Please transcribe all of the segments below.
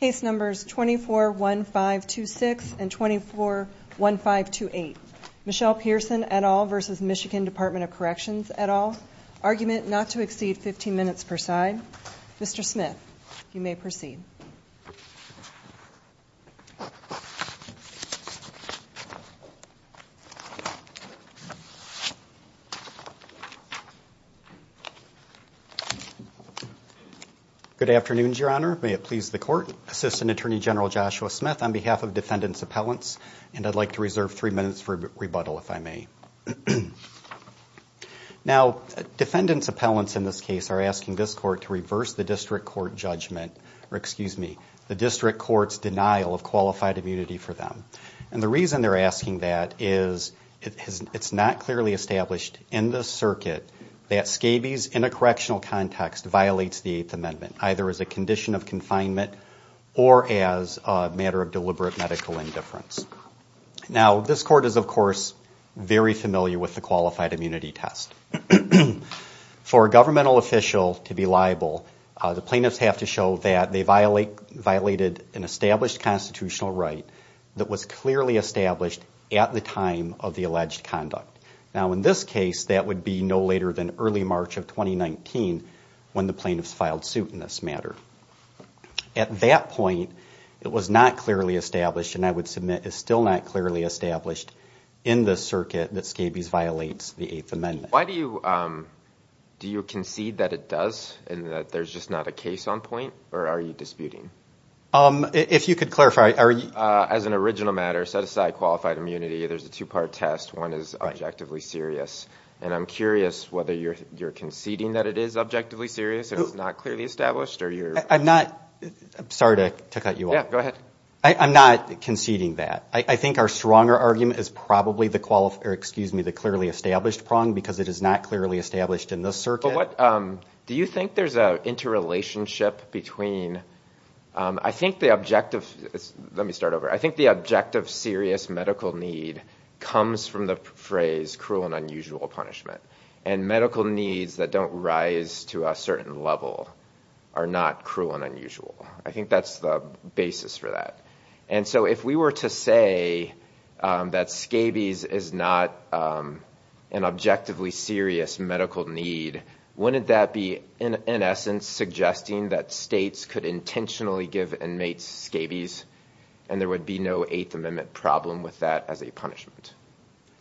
Case Numbers 241526 and 241528 Michelle Pearson et al. v. Michigan Department of Corrections et al. Argument not to exceed 15 minutes per side. Mr. Smith, you may proceed. Good afternoon, Your Honor. May it please the Court? Assistant Attorney General Joshua Smith on behalf of Defendant's Appellants, and I'd like to reserve three minutes for rebuttal, if I may. Now, Defendant's Appellants in this case are asking this Court to reverse the District Court judgment, or excuse me, the District Court's denial of qualified immunity for them. And the reason they're asking that is it's not clearly established in this circuit that SCABE's, in a correctional context, violates the Eighth Amendment, either as a condition of confinement or as a matter of deliberate medical indifference. Now, this Court is, of course, very familiar with the qualified immunity test. For a governmental official to be liable, the plaintiffs have to show that they violated an established constitutional right that was clearly established at the time of the alleged conduct. Now, in this case, that would be no later than early March of 2019 when the plaintiffs filed suit in this matter. At that point, it was not clearly established, and I would submit is still not clearly established in this circuit that SCABE's violates the Eighth Amendment. Do you concede that it does, and that there's just not a case on point, or are you disputing? If you could clarify, are you... As an original matter, set aside qualified immunity, there's a two-part test. One is objectively serious. And I'm curious whether you're conceding that it is objectively serious, and it's not clearly established, or you're... I'm not. Sorry to cut you off. Yeah, go ahead. I'm not conceding that. I think our stronger argument is probably the clearly established prong, because it is not clearly established in this circuit. Do you think there's an interrelationship between... I think the objective... Let me start over. I think the objective serious medical need comes from the phrase cruel and unusual punishment. And medical needs that don't rise to a certain level are not cruel and unusual. I think that's the basis for that. And so if we were to say that SCABE's is not an objectively serious medical need, wouldn't that be, in essence, suggesting that states could intentionally give inmates SCABE's, and there would be no Eighth Amendment problem with that as a punishment?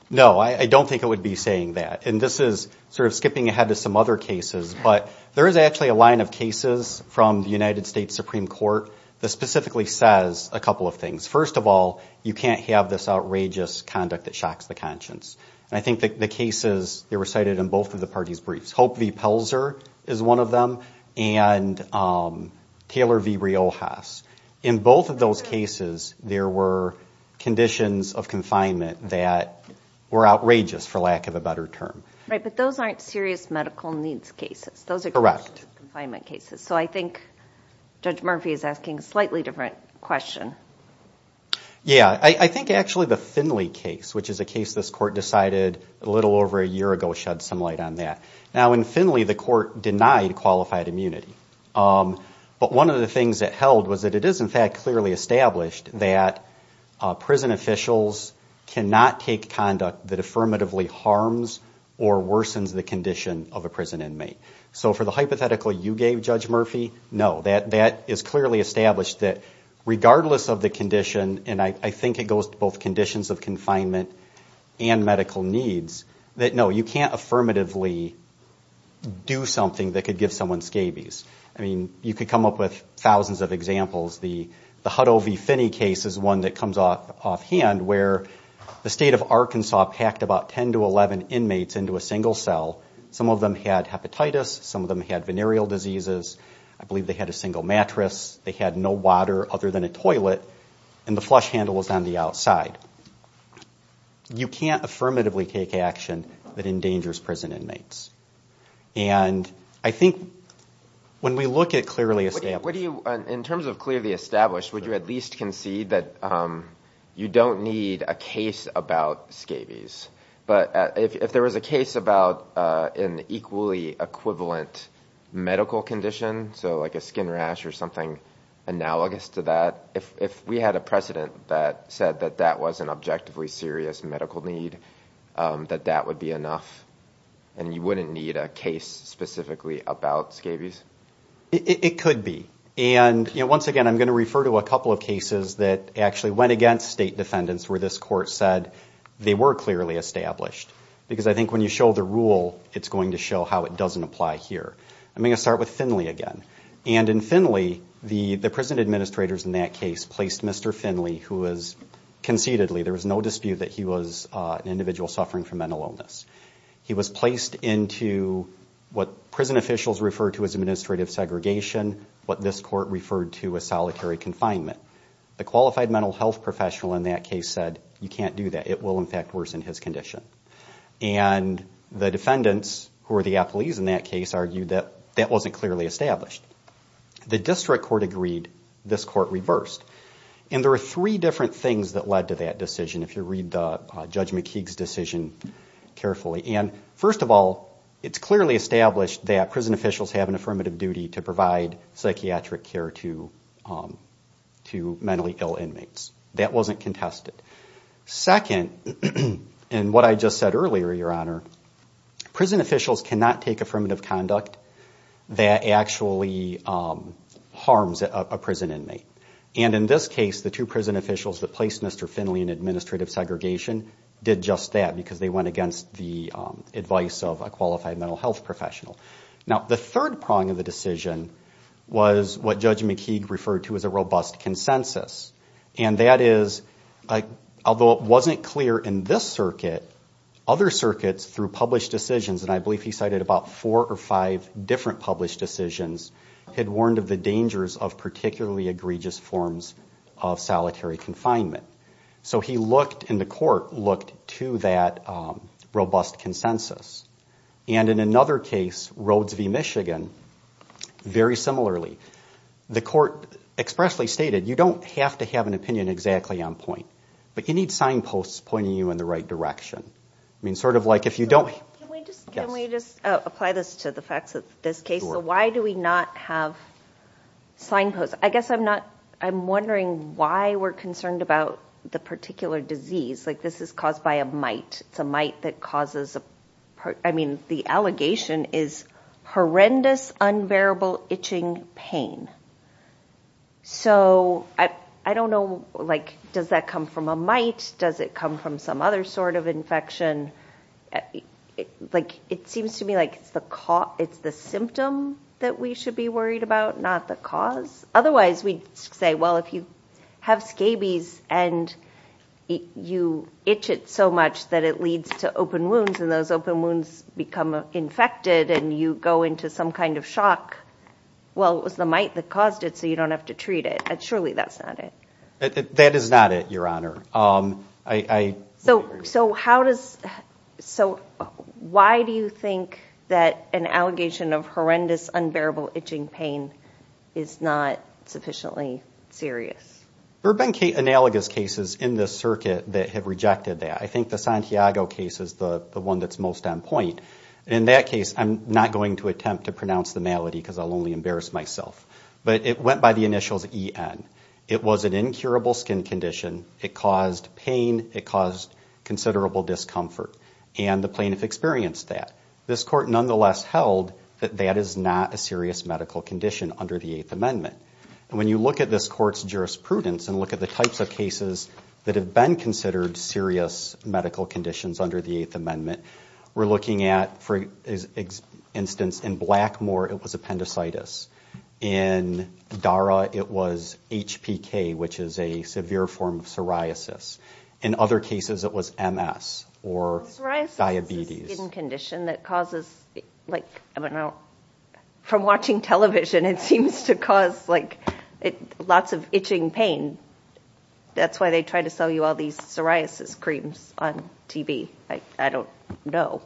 No, I don't think it would be saying that. And this is sort of skipping ahead to some other cases. But there is actually a line of cases from the United States Supreme Court that specifically says a couple of things. First of all, you can't have this outrageous conduct that shocks the conscience. And I think the cases, they were cited in both of the parties' briefs. Hope v. Pelzer is one of them, and Taylor v. Riojas. In both of those cases, there were conditions of confinement that were outrageous, for lack of a better term. Right, but those aren't serious medical needs cases. Those are conditions of confinement cases. So I think Judge Murphy is asking a slightly different question. Yeah, I think actually the Finley case, which is a case this Court decided a little over a year ago, shed some light on that. Now, in Finley, the Court denied qualified immunity. But one of the things it held was that it is, in fact, clearly established that prison officials cannot take conduct that affirmatively harms or worsens the condition of a prison inmate. So for the hypothetical you gave, Judge Murphy, no. That is clearly established that regardless of the condition, and I think it goes to both conditions of confinement and medical needs, that no, you can't affirmatively do something that could give someone scabies. I mean, you could come up with thousands of examples. The Hutto v. Finney case is one that comes offhand, where the State of Arkansas packed about 10 to 11 inmates into a single cell. Some of them had hepatitis, some of them had venereal diseases, I believe they had a single mattress, they had no water other than a toilet, and the flush handle was on the outside. You can't affirmatively take action that endangers prison inmates. And I think when we look at clearly established... In terms of clearly established, would you at least concede that you don't need a case about scabies? But if there was a case about an equally equivalent medical condition, so like a skin rash or something analogous to that, if we had a precedent that said that that was an objectively serious medical need, that that would be enough. You wouldn't need a case specifically about scabies? It could be. And once again, I'm going to refer to a couple of cases that actually went against state defendants where this court said they were clearly established. Because I think when you show the rule, it's going to show how it doesn't apply here. I'm going to start with Finley again. And in Finley, the prison administrators in that case placed Mr. Finley, who was concededly, there was no dispute that he was an individual suffering from mental illness. He was placed into what prison officials referred to as administrative segregation, what this court referred to as solitary confinement. The qualified mental health professional in that case said, you can't do that, it will in fact worsen his condition. And the defendants, who were the appellees in that case, argued that that wasn't clearly established. The district court agreed, this court reversed. And there were three different things that led to that decision, if you read Judge McKeague's decision carefully. And first of all, it's clearly established that prison officials have an affirmative duty to provide psychiatric care to mentally ill inmates. That wasn't contested. Second, and what I just said earlier, Your Honor, prison officials cannot take affirmative conduct that actually harms a prison inmate. And in this case, the two prison officials that placed Mr. Finley in administrative segregation did just that, because they went against the advice of a qualified mental health professional. Now, the third prong of the decision was what Judge McKeague referred to as a robust consensus. And that is, although it wasn't clear in this circuit, other circuits through published decisions, and I believe he cited about four or five different published decisions, had warned of the dangers of particularly egregious forms of solitary confinement. So he looked and the court looked to that robust consensus. And in another case, Rhodes v. Michigan, very similarly, the court expressly stated, you don't have to have an opinion exactly on point, but you need signposts pointing you in the right direction. I mean, sort of like if you don't... Can we just apply this to the facts of this case? So why do we not have signposts? I guess I'm not, I'm wondering why we're concerned about the particular disease. Like this is caused by a mite. It's a mite that causes... I mean, the allegation is horrendous, unbearable itching pain. So I don't know, like, does that come from a mite? Does it come from some other sort of infection? It seems to me like it's the symptom that we should be worried about, not the cause. Otherwise we'd say, well, if you have scabies and you itch it so much that it leads to open wounds and those open wounds become infected and you go into some kind of shock, well, it was the mite that caused it, so you don't have to treat it. Surely that's not it. That is not it, Your Honor. So how does... Why do you think that an allegation of horrendous, unbearable itching pain is not sufficiently serious? There have been analogous cases in this circuit that have rejected that. I think the Santiago case is the one that's most on point. In that case, I'm not going to attempt to pronounce the malady because I'll only embarrass myself, but it went by the initials EN. It was an incurable skin condition. It caused pain. It caused considerable discomfort, and the plaintiff experienced that. This Court nonetheless held that that is not a serious medical condition under the Eighth Amendment. And when you look at this Court's jurisprudence and look at the types of cases that have been considered serious medical conditions under the Eighth Amendment, we're looking at, for instance, in Blackmore, it was appendicitis. In DARA, it was HPK, which is a severe form of psoriasis. In other cases, it was MS or diabetes. Psoriasis is a skin condition that causes... From watching television, it seems to cause lots of itching pain. That's why they try to sell you all these psoriasis creams on TV. I don't know.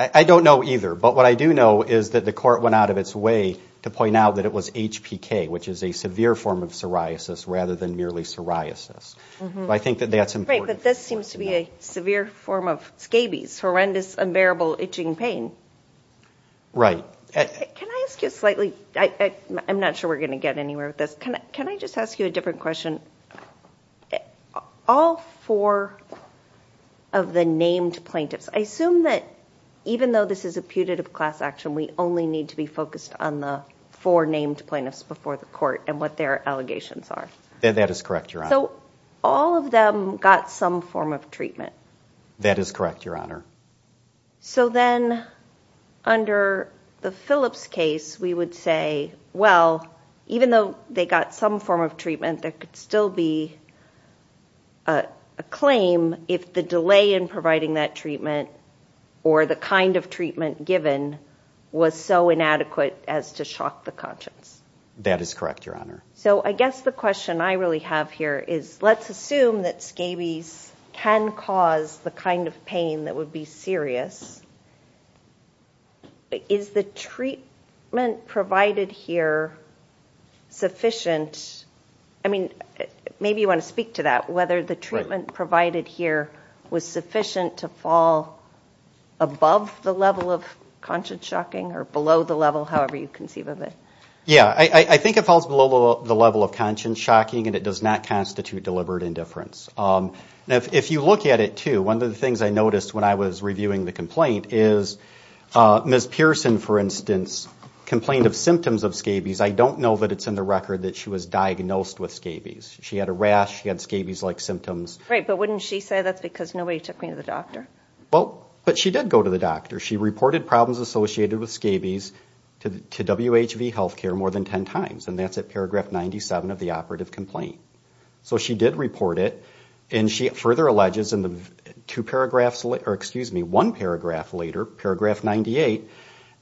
I don't know either, but what I do know is that the Court went out of its way to point out that it was HPK, which is a severe form of psoriasis rather than merely psoriasis. But this seems to be a severe form of scabies, horrendous, unbearable itching pain. Right. Can I ask you a slightly... I'm not sure we're going to get anywhere with this. Can I just ask you a different question? All four of the named plaintiffs, I assume that even though this is a putative class action, we only need to be focused on the four named plaintiffs before the Court and what their allegations are. That is correct, Your Honor. So all of them got some form of treatment. That is correct, Your Honor. So then under the Phillips case, we would say, well, even though they got some form of treatment, there could still be a claim if the delay in providing that treatment or the kind of treatment given was so inadequate as to shock the conscience. That is correct, Your Honor. So I guess the question I really have here is let's assume that scabies can cause the kind of pain that would be serious. Is the treatment provided here sufficient? I mean, maybe you want to speak to that, whether the treatment provided here was sufficient to fall above the level of conscience shocking or below the level, however you conceive of it. I think it falls below the level of conscience shocking, and it does not constitute deliberate indifference. Now, if you look at it, too, one of the things I noticed when I was reviewing the complaint is Ms. Pearson, for instance, complained of symptoms of scabies. I don't know that it's in the record that she was diagnosed with scabies. She had a rash. She had scabies-like symptoms. Right, but wouldn't she say that's because nobody took me to the doctor? Well, but she did go to the doctor. She reported problems associated with scabies to WHV Healthcare more than 10 times, and that's at paragraph 97 of the operative complaint. So she did report it, and she further alleges in the two paragraphs, or excuse me, one paragraph later, paragraph 98,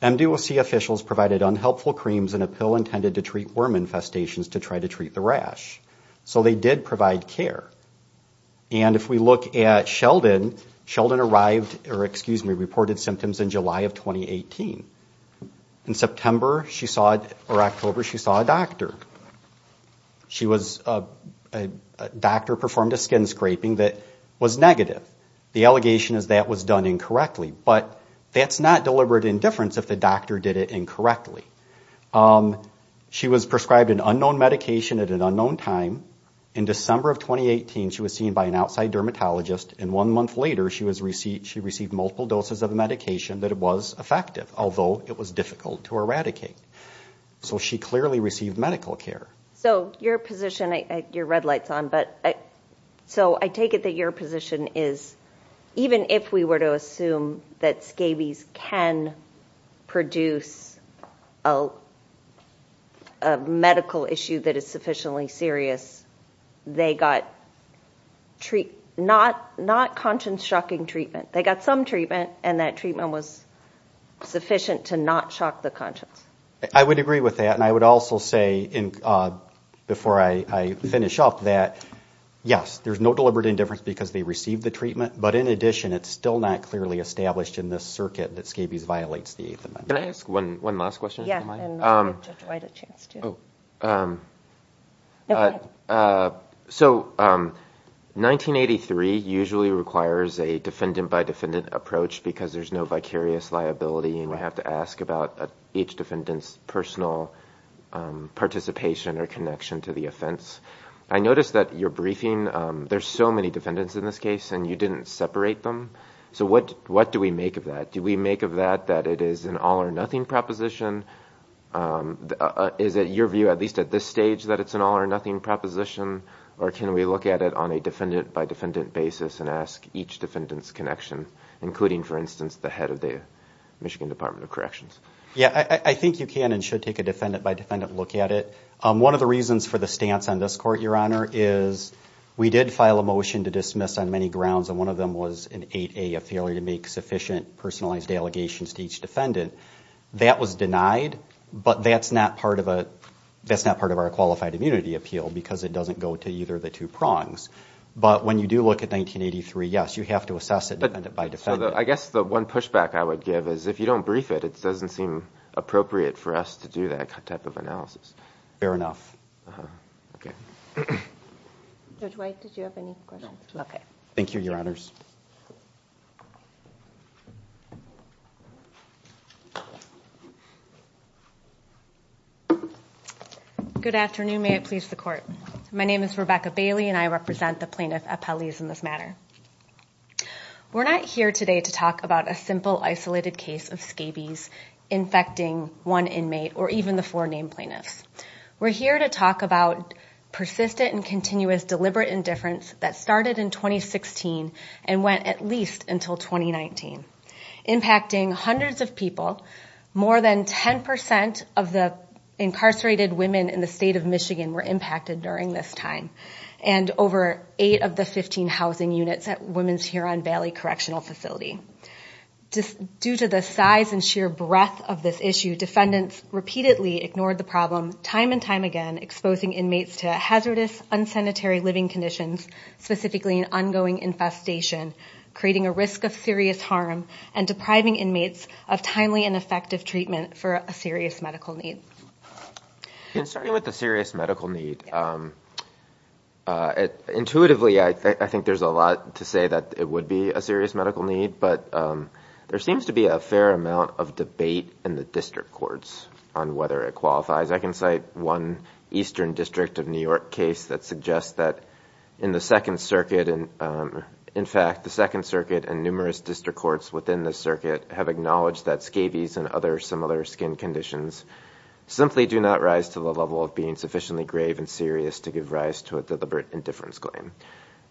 MDOC officials provided unhelpful creams and a pill intended to treat worm infestations to try to treat the rash. So they did provide care. And if we look at Sheldon, Sheldon arrived, or excuse me, reported symptoms in July of 2018. In September she saw, or October, she saw a doctor. She was, a doctor performed a skin scraping that was negative. The allegation is that was done incorrectly, but that's not deliberate indifference if the doctor did it incorrectly. She was prescribed an unknown medication at an unknown time. In December of 2018, she was seen by an outside dermatologist, and one month later, she received multiple doses of a medication that was effective, although it was difficult to eradicate. So she clearly received medical care. So your position, your red light's on, but, so I take it that your position is, even if we were to assume that scabies can produce, a medical issue that is sufficiently serious, they got, not, not conscience shocking treatment. They got some treatment, and that treatment was sufficient to not shock the conscience. I would agree with that, and I would also say, before I finish up, that, yes, there's no deliberate indifference because they received the treatment, but in addition, it's still not clearly established in this circuit that scabies violates the Eighth Amendment. Can I ask one last question? So, 1983 usually requires a defendant-by-defendant approach because there's no vicarious liability, and we have to ask about each defendant's personal participation or connection to the offense. I noticed that your briefing, there's so many defendants in this case, and you didn't separate them. So what, what do we make of that? Do we make of that that it is an all-or-nothing proposition? Is it your view, at least at this stage, that it's an all-or-nothing proposition, or can we look at it on a defendant-by-defendant basis and ask each defendant's connection, including, for instance, the head of the Michigan Department of Corrections? Yeah, I think you can and should take a defendant-by-defendant look at it. One of the reasons for the stance on this court, Your Honor, is we did file a motion to dismiss on many grounds, and one of them was an 8A, a failure to make sufficient personalized allegations to each defendant. That was denied, but that's not part of our qualified immunity appeal because it doesn't go to either of the two prongs. But when you do look at 1983, yes, you have to assess it defendant-by-defendant. I guess the one pushback I would give is if you don't brief it, it doesn't seem appropriate for us to do that type of analysis. Fair enough. Judge White, did you have any questions? Thank you, Your Honors. Good afternoon. May it please the Court. My name is Rebecca Bailey and I represent the plaintiff appellees in this matter. We're not here today to talk about a simple, isolated case of scabies infecting one inmate or even the four named plaintiffs. We're here to talk about persistent and continuous deliberate indifference that started in 2016 and went at least until 2019, impacting hundreds of people. More than 10% of the incarcerated women in the state of Michigan were impacted during this time, and over eight of the 15 housing units at Women's Huron Valley Correctional Facility. Due to the size and sheer breadth of this issue, defendants repeatedly ignored the problem, time and time again, exposing inmates to hazardous, unsanitary living conditions, specifically an ongoing infestation, creating a risk of serious harm and depriving inmates of timely and effective treatment for a serious medical need. In starting with the serious medical need, intuitively I think there's a lot to say that it would be a serious medical need, but there seems to be a fair amount of debate in the district courts on whether it qualifies. I can cite one eastern district of New York case that suggests that in the Second Circuit, in fact, the Second Circuit and numerous district courts within the circuit have acknowledged that scabies and other similar skin conditions simply do not rise to the level of being sufficiently grave and serious to give rise to a deliberate indifference claim.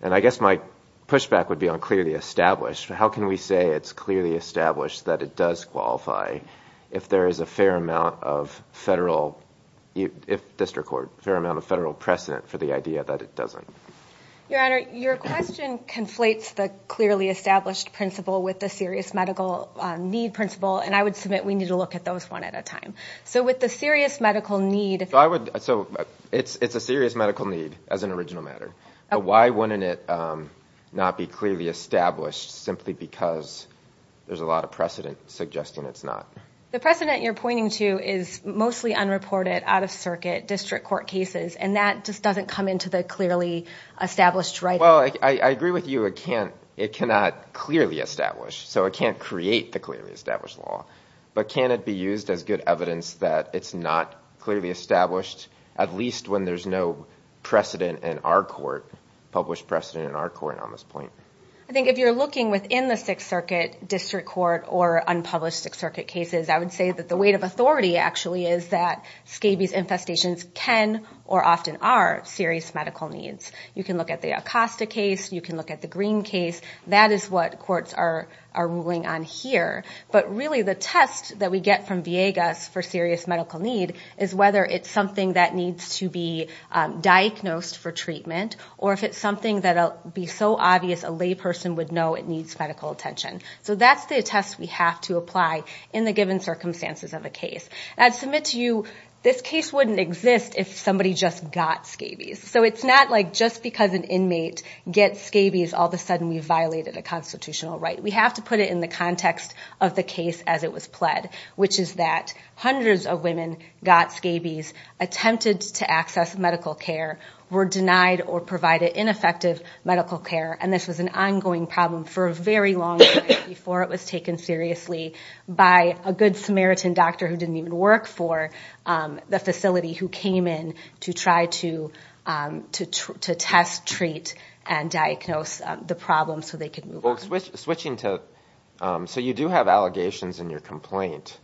And I guess my pushback would be on clearly established. How can we say it's clearly established that it does qualify if there is a fair amount of federal precedent for the idea that it doesn't? Your Honor, your question conflates the clearly established principle with the serious medical need principle, and I would submit we need to look at those one at a time. So it's a serious medical need as an original matter, but why wouldn't it not be clearly established simply because there's a lot of precedent suggesting it's not? The precedent you're pointing to is mostly unreported, out-of-circuit district court cases, and that just doesn't come into the clearly established right. Well, I agree with you. It cannot clearly establish, so it can't create the clearly established law. But can it be used as good evidence that it's not clearly established, at least when there's no precedent in our court, published precedent in our court on this point? I think if you're looking within the Sixth Circuit district court or unpublished Sixth Circuit cases, I would say that the weight of authority actually is that scabies infestations can or often are serious medical needs. You can look at the Acosta case. You can look at the Green case. That is what courts are ruling on here, but really the test that we get from Viegas for serious medical need is whether it's something that needs to be diagnosed for treatment, or if it's something that'll be so obvious a layperson would know it needs medical attention. So that's the test we have to apply in the given circumstances of a case. I'd submit to you this case wouldn't exist if somebody just got scabies. So it's not like just because an inmate gets scabies, all of a sudden we've violated a constitutional right. We have to put it in the context of the case as it was pled, which is that hundreds of women got scabies, attempted to access medical care, were denied or provided ineffective medical care, and this was an ongoing problem for a very long time before it was taken seriously by a Good Samaritan doctor who didn't even work for the facility who came in to try to test, treat, and diagnose the problem so they could move on. So you do have allegations in your complaint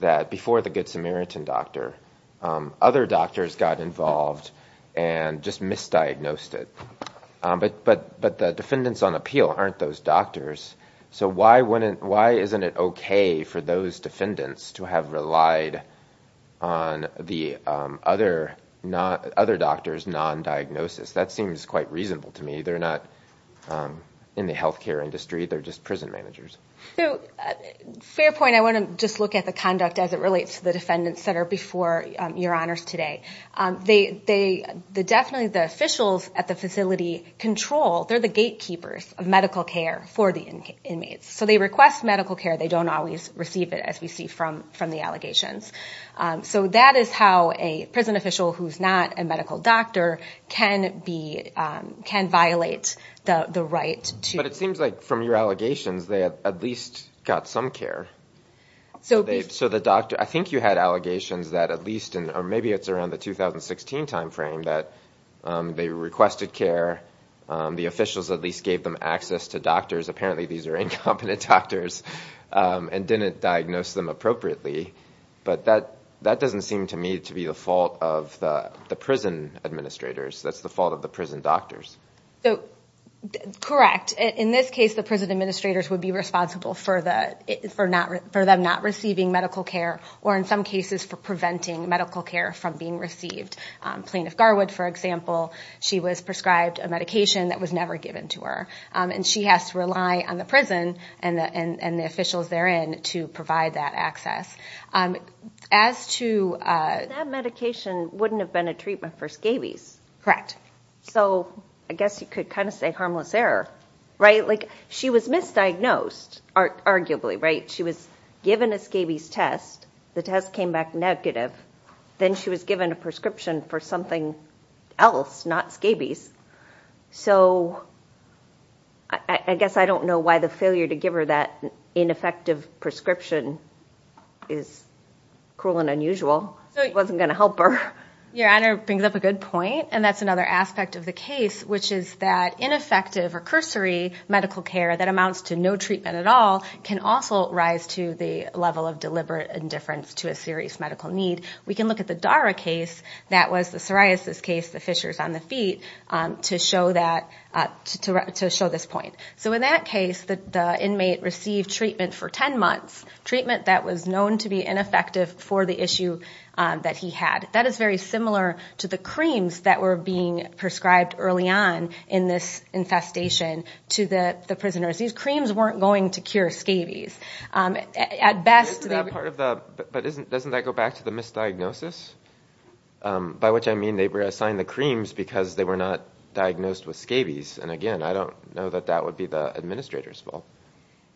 that before the Good Samaritan doctor, other doctors got involved and just misdiagnosed it, but the defendants on appeal aren't those doctors. So why isn't it okay for those defendants to have relied on the other doctor's non-diagnosis? That seems quite reasonable to me. They're not in the health care industry. They're just prison managers. They definitely, the officials at the facility control, they're the gatekeepers of medical care for the inmates. So they request medical care. They don't always receive it, as we see from the allegations. So that is how a prison official who's not a medical doctor can violate the right to... But it seems like from your allegations they at least got some care. So the doctor, I think you had allegations that at least, or maybe it's around the 2016 timeframe, that they requested care. The officials at least gave them access to doctors. Apparently these are incompetent doctors and didn't diagnose them appropriately. But that doesn't seem to me to be the fault of the prison administrators. That's the fault of the prison doctors. Correct. In this case the prison administrators would be responsible for them not receiving medical care, or in some cases for preventing medical care from being received. Plaintiff Garwood, for example, she was prescribed a medication that was never given to her. And she has to rely on the prison and the officials therein to provide that access. That medication wouldn't have been a treatment for scabies. Correct. So I guess you could kind of say harmless error. She was misdiagnosed, arguably. She was given a scabies test. The test came back negative. Then she was given a prescription for something else, not scabies. So I guess I don't know why the failure to give her that ineffective prescription is cruel and unusual. It wasn't going to help her. Your Honor brings up a good point, and that's another aspect of the case, which is that ineffective or cursory medical care that amounts to no treatment at all can also rise to the level of deliberate indifference to a serious medical need. We can look at the Dara case, that was the psoriasis case, the fissures on the feet, to show this point. So in that case, the inmate received treatment for 10 months, treatment that was known to be ineffective for the issue that he had. That is very similar to the creams that were being prescribed early on in this infestation to the prisoners. These creams weren't going to cure scabies. That's not a diagnosis, by which I mean they were assigned the creams because they were not diagnosed with scabies. And again, I don't know that that would be the administrator's fault.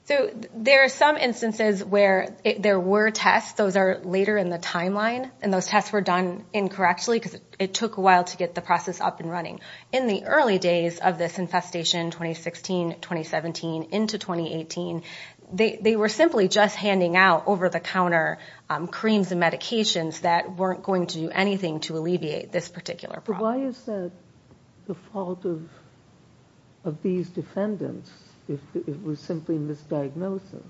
So there are some instances where there were tests. Those are later in the timeline. And those tests were done incorrectly because it took a while to get the process up and running. In the early days of this infestation, 2016, 2017, into 2018, they were simply just handing out over-the-counter creams and medications that weren't going to do anything to alleviate this particular problem. Why is that the fault of these defendants if it was simply misdiagnosis?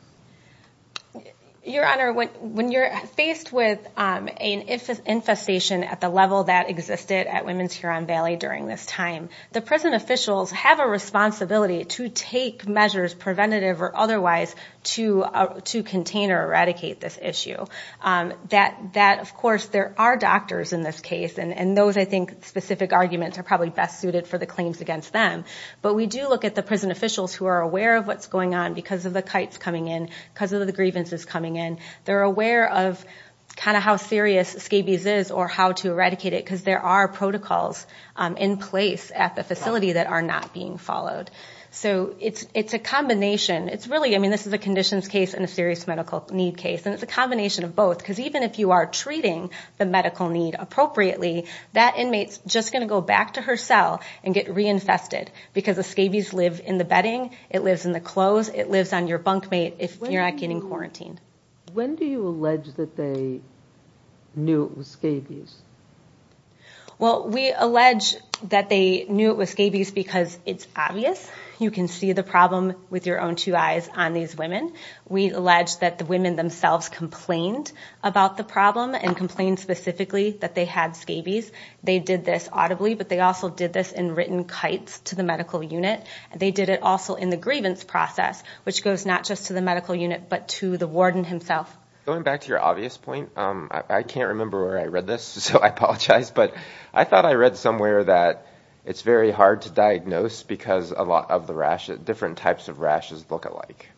Your Honor, when you're faced with an infestation at the level that existed at Women's Huron Valley during this time, the prison officials have a responsibility to take measures, preventative or otherwise, to contain or eradicate this issue. Of course, there are doctors in this case, and those, I think, specific arguments are probably best suited for the claims against them. But we do look at the prison officials who are aware of what's going on because of the kites coming in, because of the grievances coming in. They're aware of kind of how serious scabies is or how to eradicate it because there are protocols in place at the facility that are not being followed. So it's a combination. I mean, this is a conditions case and a serious medical need case, and it's a combination of both because even if you are treating the medical need appropriately, that inmate's just going to go back to her cell and get reinfested because the scabies live in the bedding, it lives in the clothes, it lives on your bunkmate if you're not getting quarantined. When do you allege that they knew it was scabies? Well, we allege that they knew it was scabies because it's obvious. You can see the problem with your own two eyes on these women. We allege that the women themselves complained about the problem and complained specifically that they had scabies. They did this audibly, but they also did this in written kites to the medical unit. They did it also in the grievance process, which goes not just to the medical unit but to the warden himself. Going back to your obvious point, I can't remember where I read this, so I apologize, but I thought I read somewhere that it's very hard to diagnose because a lot of the different types of rashes look alike.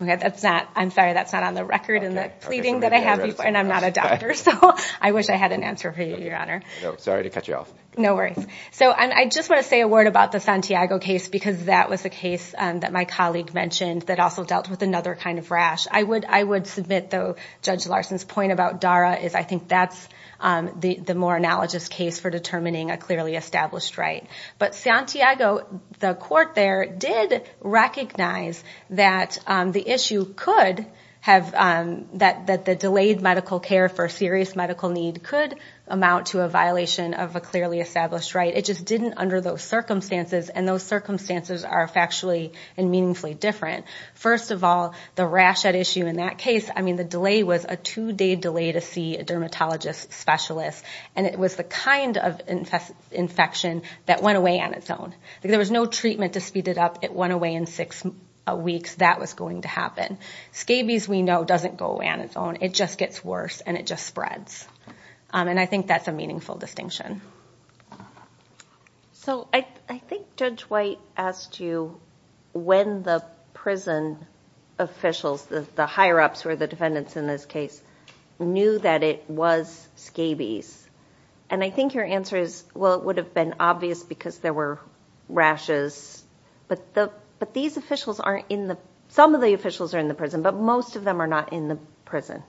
I'm sorry, that's not on the record in the pleading that I have, and I'm not a doctor, so I wish I had an answer for you, Your Honor. Sorry to cut you off. No worries. I just want to say a word about the Santiago case because that was a case that my colleague mentioned that also dealt with another kind of rash. I would submit, though, Judge Larson's point about DARA is I think that's the more analogous case for determining a clearly established right. But Santiago, the court there, did recognize that the issue could have... that the delayed medical care for serious medical need could amount to a violation of a clearly established right. It just didn't under those circumstances, and those circumstances are factually and meaningfully different. First of all, the rash at issue in that case, I mean the delay was a two-day delay to see a dermatologist specialist, and it was the kind of infection that went away on its own. There was no treatment to speed it up. It went away in six weeks. That was going to happen. Scabies, we know, doesn't go away on its own. It just gets worse, and it just spreads. And I think that's a meaningful distinction. So I think Judge White asked you when the prison officials, the higher-ups, or the defendants in this case, knew that it was scabies. And I think your answer is, well, it would have been obvious because there were rashes, but these officials aren't in the... some of the officials are in the prison, but most of them are not in the prison.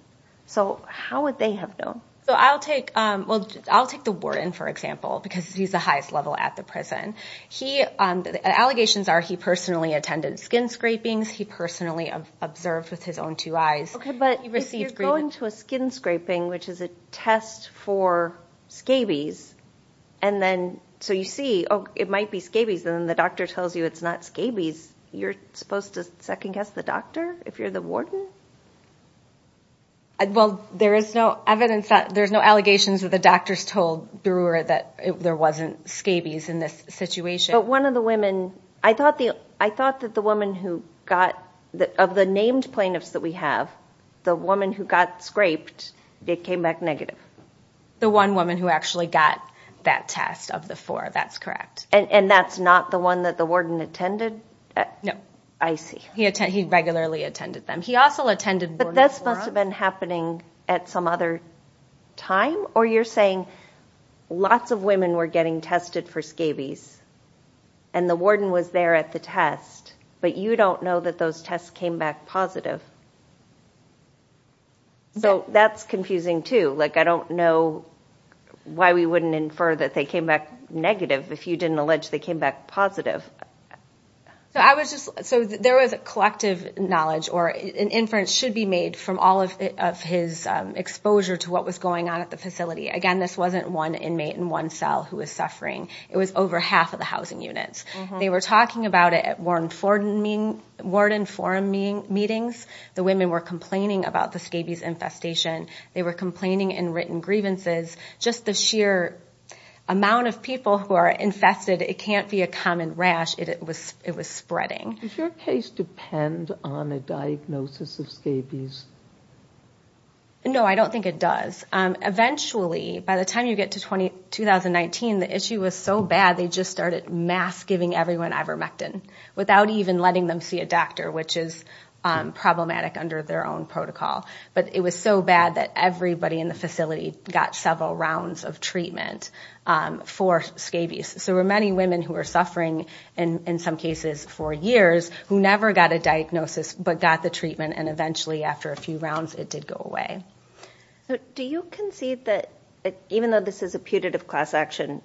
So how would they have known? I'll take the warden, for example, because he's the highest level at the prison. The allegations are he personally attended skin scrapings, he personally observed with his own two eyes. Okay, but if you're going to a skin scraping, which is a test for scabies, and then so you see, oh, it might be scabies, and then the doctor tells you it's not scabies, you're supposed to second-guess the doctor if you're the warden? Well, there is no evidence that... there's no allegations that the doctors told Brewer that there wasn't scabies in this situation. But one of the women... I thought that the woman who got... of the named plaintiffs that we have, the woman who got scraped, it came back negative. The one woman who actually got that test of the four, that's correct. And that's not the one that the warden attended? No. I see. He regularly attended them. He also attended... But this must have been happening at some other time, or you're saying lots of women were getting tested for scabies, and the warden was there at the test, but you don't know that those tests came back positive. So that's confusing, too. Like, I don't know why we wouldn't infer that they came back negative if you didn't allege they came back positive. So there was a collective knowledge, or an inference should be made from all of his exposure to what was going on at the facility. Again, this wasn't one inmate in one cell who was suffering. It was over half of the housing units. They were talking about it at warden forum meetings. The women were complaining about the scabies infestation. They were complaining in written grievances. Just the sheer amount of people who are infested, it can't be a common rash. It was spreading. Does your case depend on a diagnosis of scabies? No, I don't think it does. Eventually, by the time you get to 2019, the issue was so bad they just started mass giving everyone ivermectin without even letting them see a doctor, which is problematic under their own protocol. But it was so bad that everybody in the facility got several rounds of treatment for scabies. So there were many women who were suffering, in some cases for years, who never got a diagnosis but got the treatment, and eventually, after a few rounds, it did go away. Do you concede that even though this is a putative class action,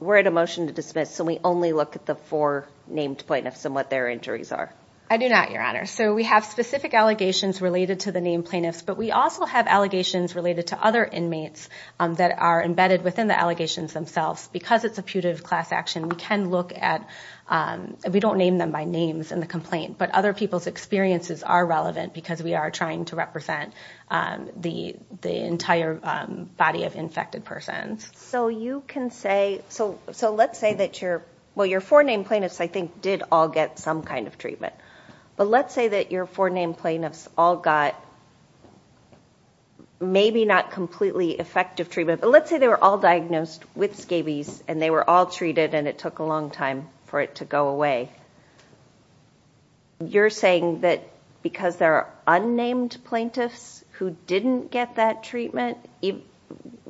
we're at a motion to dismiss, so we only look at the four named plaintiffs and what their injuries are? I do not, Your Honor. So we have specific allegations related to the named plaintiffs, but we also have allegations related to other inmates that are embedded within the allegations themselves. Because it's a putative class action, we can look at... We don't name them by names in the complaint, but other people's experiences are relevant because we are trying to represent the entire body of infected persons. So let's say that your four named plaintiffs, I think, did all get some kind of treatment. But let's say that your four named plaintiffs all got maybe not completely effective treatment, but let's say they were all diagnosed with scabies and they were all treated and it took a long time for it to go away. You're saying that because there are unnamed plaintiffs who didn't get that treatment,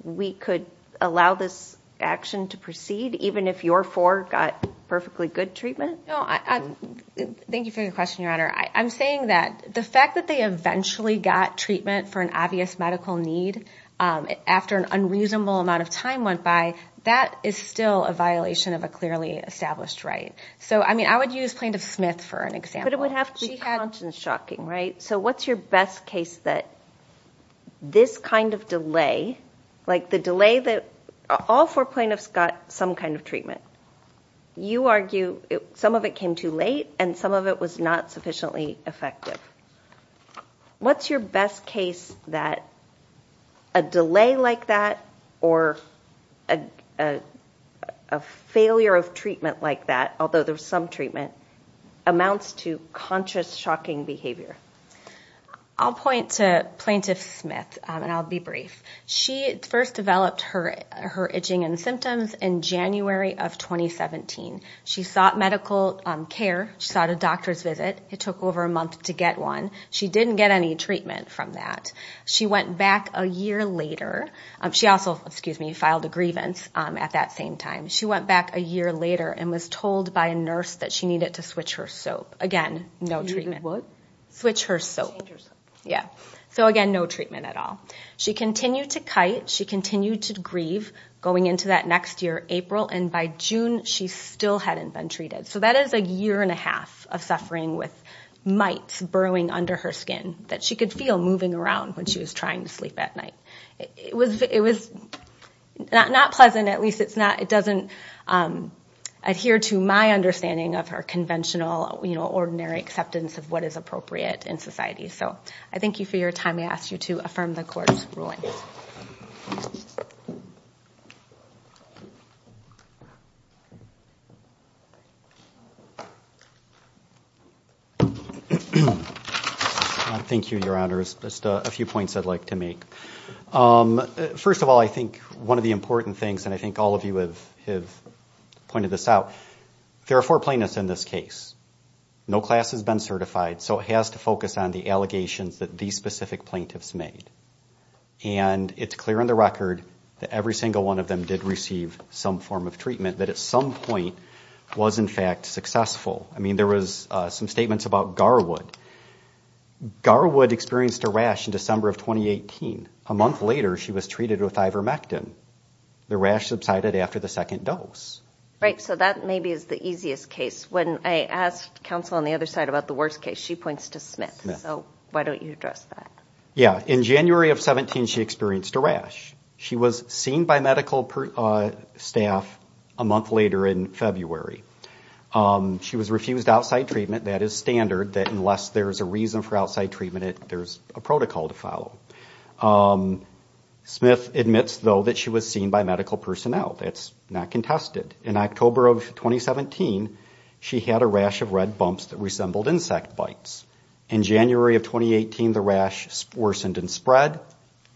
we could allow this action to proceed even if your four got perfectly good treatment? No. Thank you for your question, Your Honor. I'm saying that the fact that they eventually got treatment for an obvious medical need after an unreasonable amount of time went by, that is still a violation of a clearly established right. So, I mean, I would use Plaintiff Smith for an example. But it would have to be conscious shocking, right? So what's your best case that this kind of delay, like the delay that all four plaintiffs got some kind of treatment. You argue some of it came too late and some of it was not sufficiently effective. What's your best case that a delay like that or a failure of treatment like that, although there's some treatment, amounts to conscious shocking behavior? I'll point to Plaintiff Smith and I'll be brief. She first developed her itching and symptoms in January of 2017. She sought medical care. She sought a doctor's visit. It took over a month to get one. She didn't get any treatment from that. She also filed a grievance at that same time. She went back a year later and was told by a nurse that she needed to switch her soap. So again, no treatment at all. She continued to kite. She continued to grieve going into that next year, April. And by June, she still hadn't been treated. So that is a year and a half of suffering with mites burrowing under her skin that she could feel moving around when she was trying to sleep at night. It was not pleasant. At least it doesn't adhere to my understanding of her conventional, ordinary acceptance of what is appropriate in society. So I thank you for your time. I ask you to affirm the court's ruling. Thank you. Thank you, Your Honors. Just a few points I'd like to make. First of all, I think one of the important things, and I think all of you have pointed this out, there are four plaintiffs in this case. No class has been certified, so it has to focus on the allegations that these specific plaintiffs made. And it's clear in the record that every single one of them did receive some form of treatment, that at some point was in fact successful. I mean, there was some statements about Garwood. Garwood experienced a rash in December of 2018. A month later, she was treated with ivermectin. The rash subsided after the second dose. Right, so that maybe is the easiest case. When I asked counsel on the other side about the worst case, she points to Smith. So why don't you address that? Yeah. In January of 2017, she experienced a rash. She was seen by medical staff a month later in February. She was refused outside treatment. That is standard, that unless there's a reason for outside treatment, there's a protocol to follow. Smith admits, though, that she was seen by medical personnel. That's not contested. In October of 2017, she had a rash of red bumps that resembled insect bites. In January of 2018, the rash worsened and spread,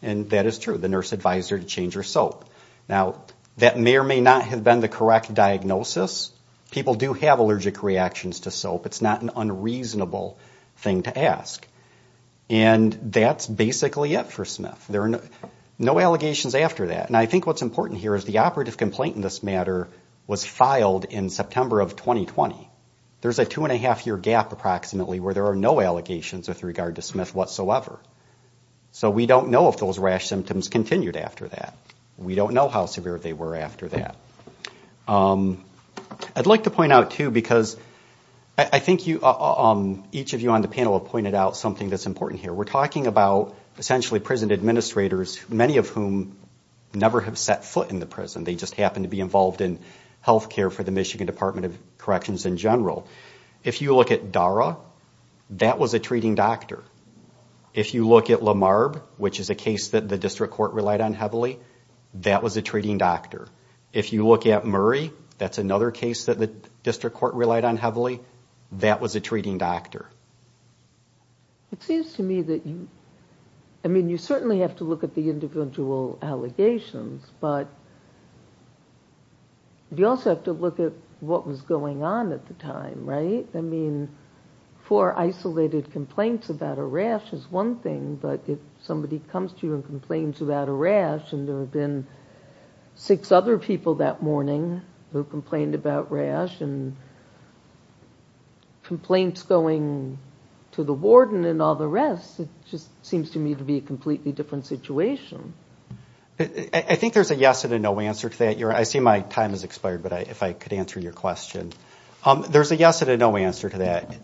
and that is true. The nurse advised her to change her soap. Now, that may or may not have been the correct diagnosis. People do have allergic reactions to soap. It's not an unreasonable thing to ask. And that's basically it for Smith. There are no allegations after that. And I think what's important here is the operative complaint in this matter was filed in September of 2020. There's a two-and-a-half-year gap, approximately, where there are no allegations with regard to Smith whatsoever. So we don't know if those rash symptoms continued after that. We don't know how severe they were after that. I'd like to point out, too, because I think each of you on the panel have pointed out something that's important here. We're talking about, essentially, prison administrators, many of whom never have set foot in the prison. They just happen to be involved in health care for the Michigan Department of Corrections in general. If you look at Dara, that was a treating doctor. If you look at Lamarb, which is a case that the district court relied on heavily, that was a treating doctor. If you look at Murray, that's another case that the district court relied on heavily, that was a treating doctor. It seems to me that you, I mean, you certainly have to look at the individual allegations, but you also have to look at what was going on at the time, right? I mean, four isolated complaints about a rash is one thing, but if somebody comes to you and complains about a rash, and there have been six other people that morning who complained about rash, and complaints going to the warden and all the rest, it just seems to me to be a completely different situation. I think there's a yes and a no answer to that. I see my time has expired, but if I could answer your question. There's a yes and a no answer to that.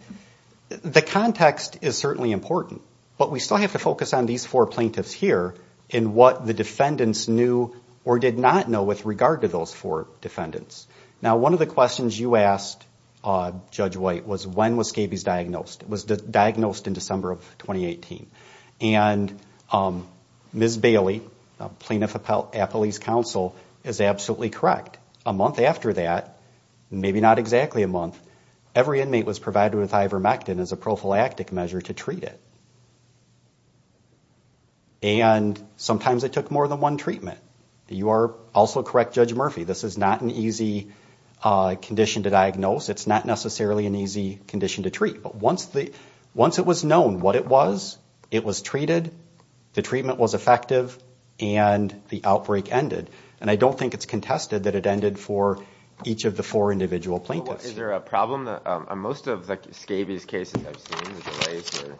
The context is certainly important, but we still have to focus on these four plaintiffs here and what the defendants knew or did not know with regard to those four defendants. Now, one of the questions you asked, Judge White, was when was Scabies diagnosed. It was diagnosed in December of 2018. And Ms. Bailey, a plaintiff at Police Council, is absolutely correct. A month after that, maybe not exactly a month, every inmate was provided with ivermectin as a prophylactic measure to treat it. And sometimes it took more than one treatment. You are also correct, Judge Murphy, this is not an easy condition to diagnose. It's not necessarily an easy condition to treat. But once it was known what it was, it was treated, the treatment was effective, and the outbreak ended. And I don't think it's contested that it ended for each of the four individual plaintiffs. Is there a problem? Most of the Scabies cases I've seen, the delays are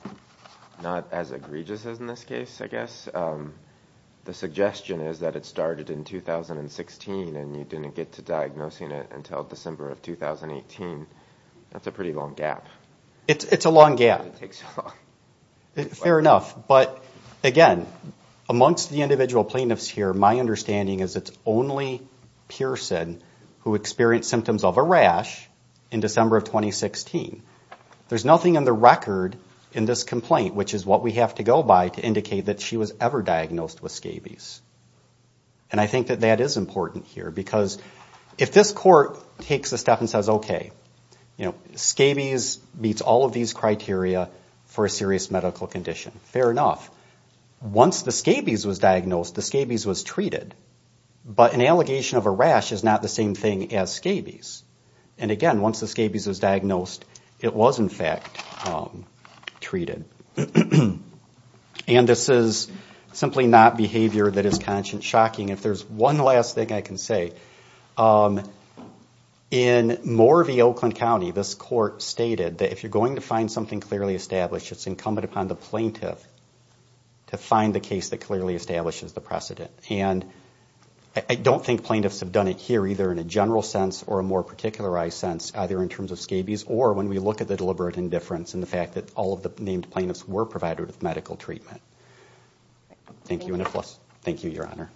not as egregious as in this case, I guess. But the suggestion is that it started in 2016 and you didn't get to diagnosing it until December of 2018. That's a pretty long gap. It's a long gap. Fair enough. But again, amongst the individual plaintiffs here, my understanding is it's only Pearson who experienced symptoms of a rash in December of 2016. There's nothing in the record in this complaint which is what we have to go by to indicate that she was ever diagnosed with Scabies. And I think that that is important here because if this court takes a step and says, okay, you know, Scabies meets all of these criteria for a serious medical condition, fair enough. Once the Scabies was diagnosed, the Scabies was treated. But an allegation of a rash is not the same thing as Scabies. And again, once the Scabies was diagnosed, it was in fact treated. And this is simply not behavior that is conscious shocking. If there's one last thing I can say, in Moore v. Oakland County, this court stated that if you're going to find something clearly established, it's incumbent upon the plaintiff to find the case that clearly establishes the precedent. I don't think plaintiffs have done it here, either in a general sense or a more particularized sense, either in terms of Scabies or when we look at the deliberate indifference and the fact that all of the named plaintiffs were provided with medical treatment. Thank you, and thank you, Your Honor.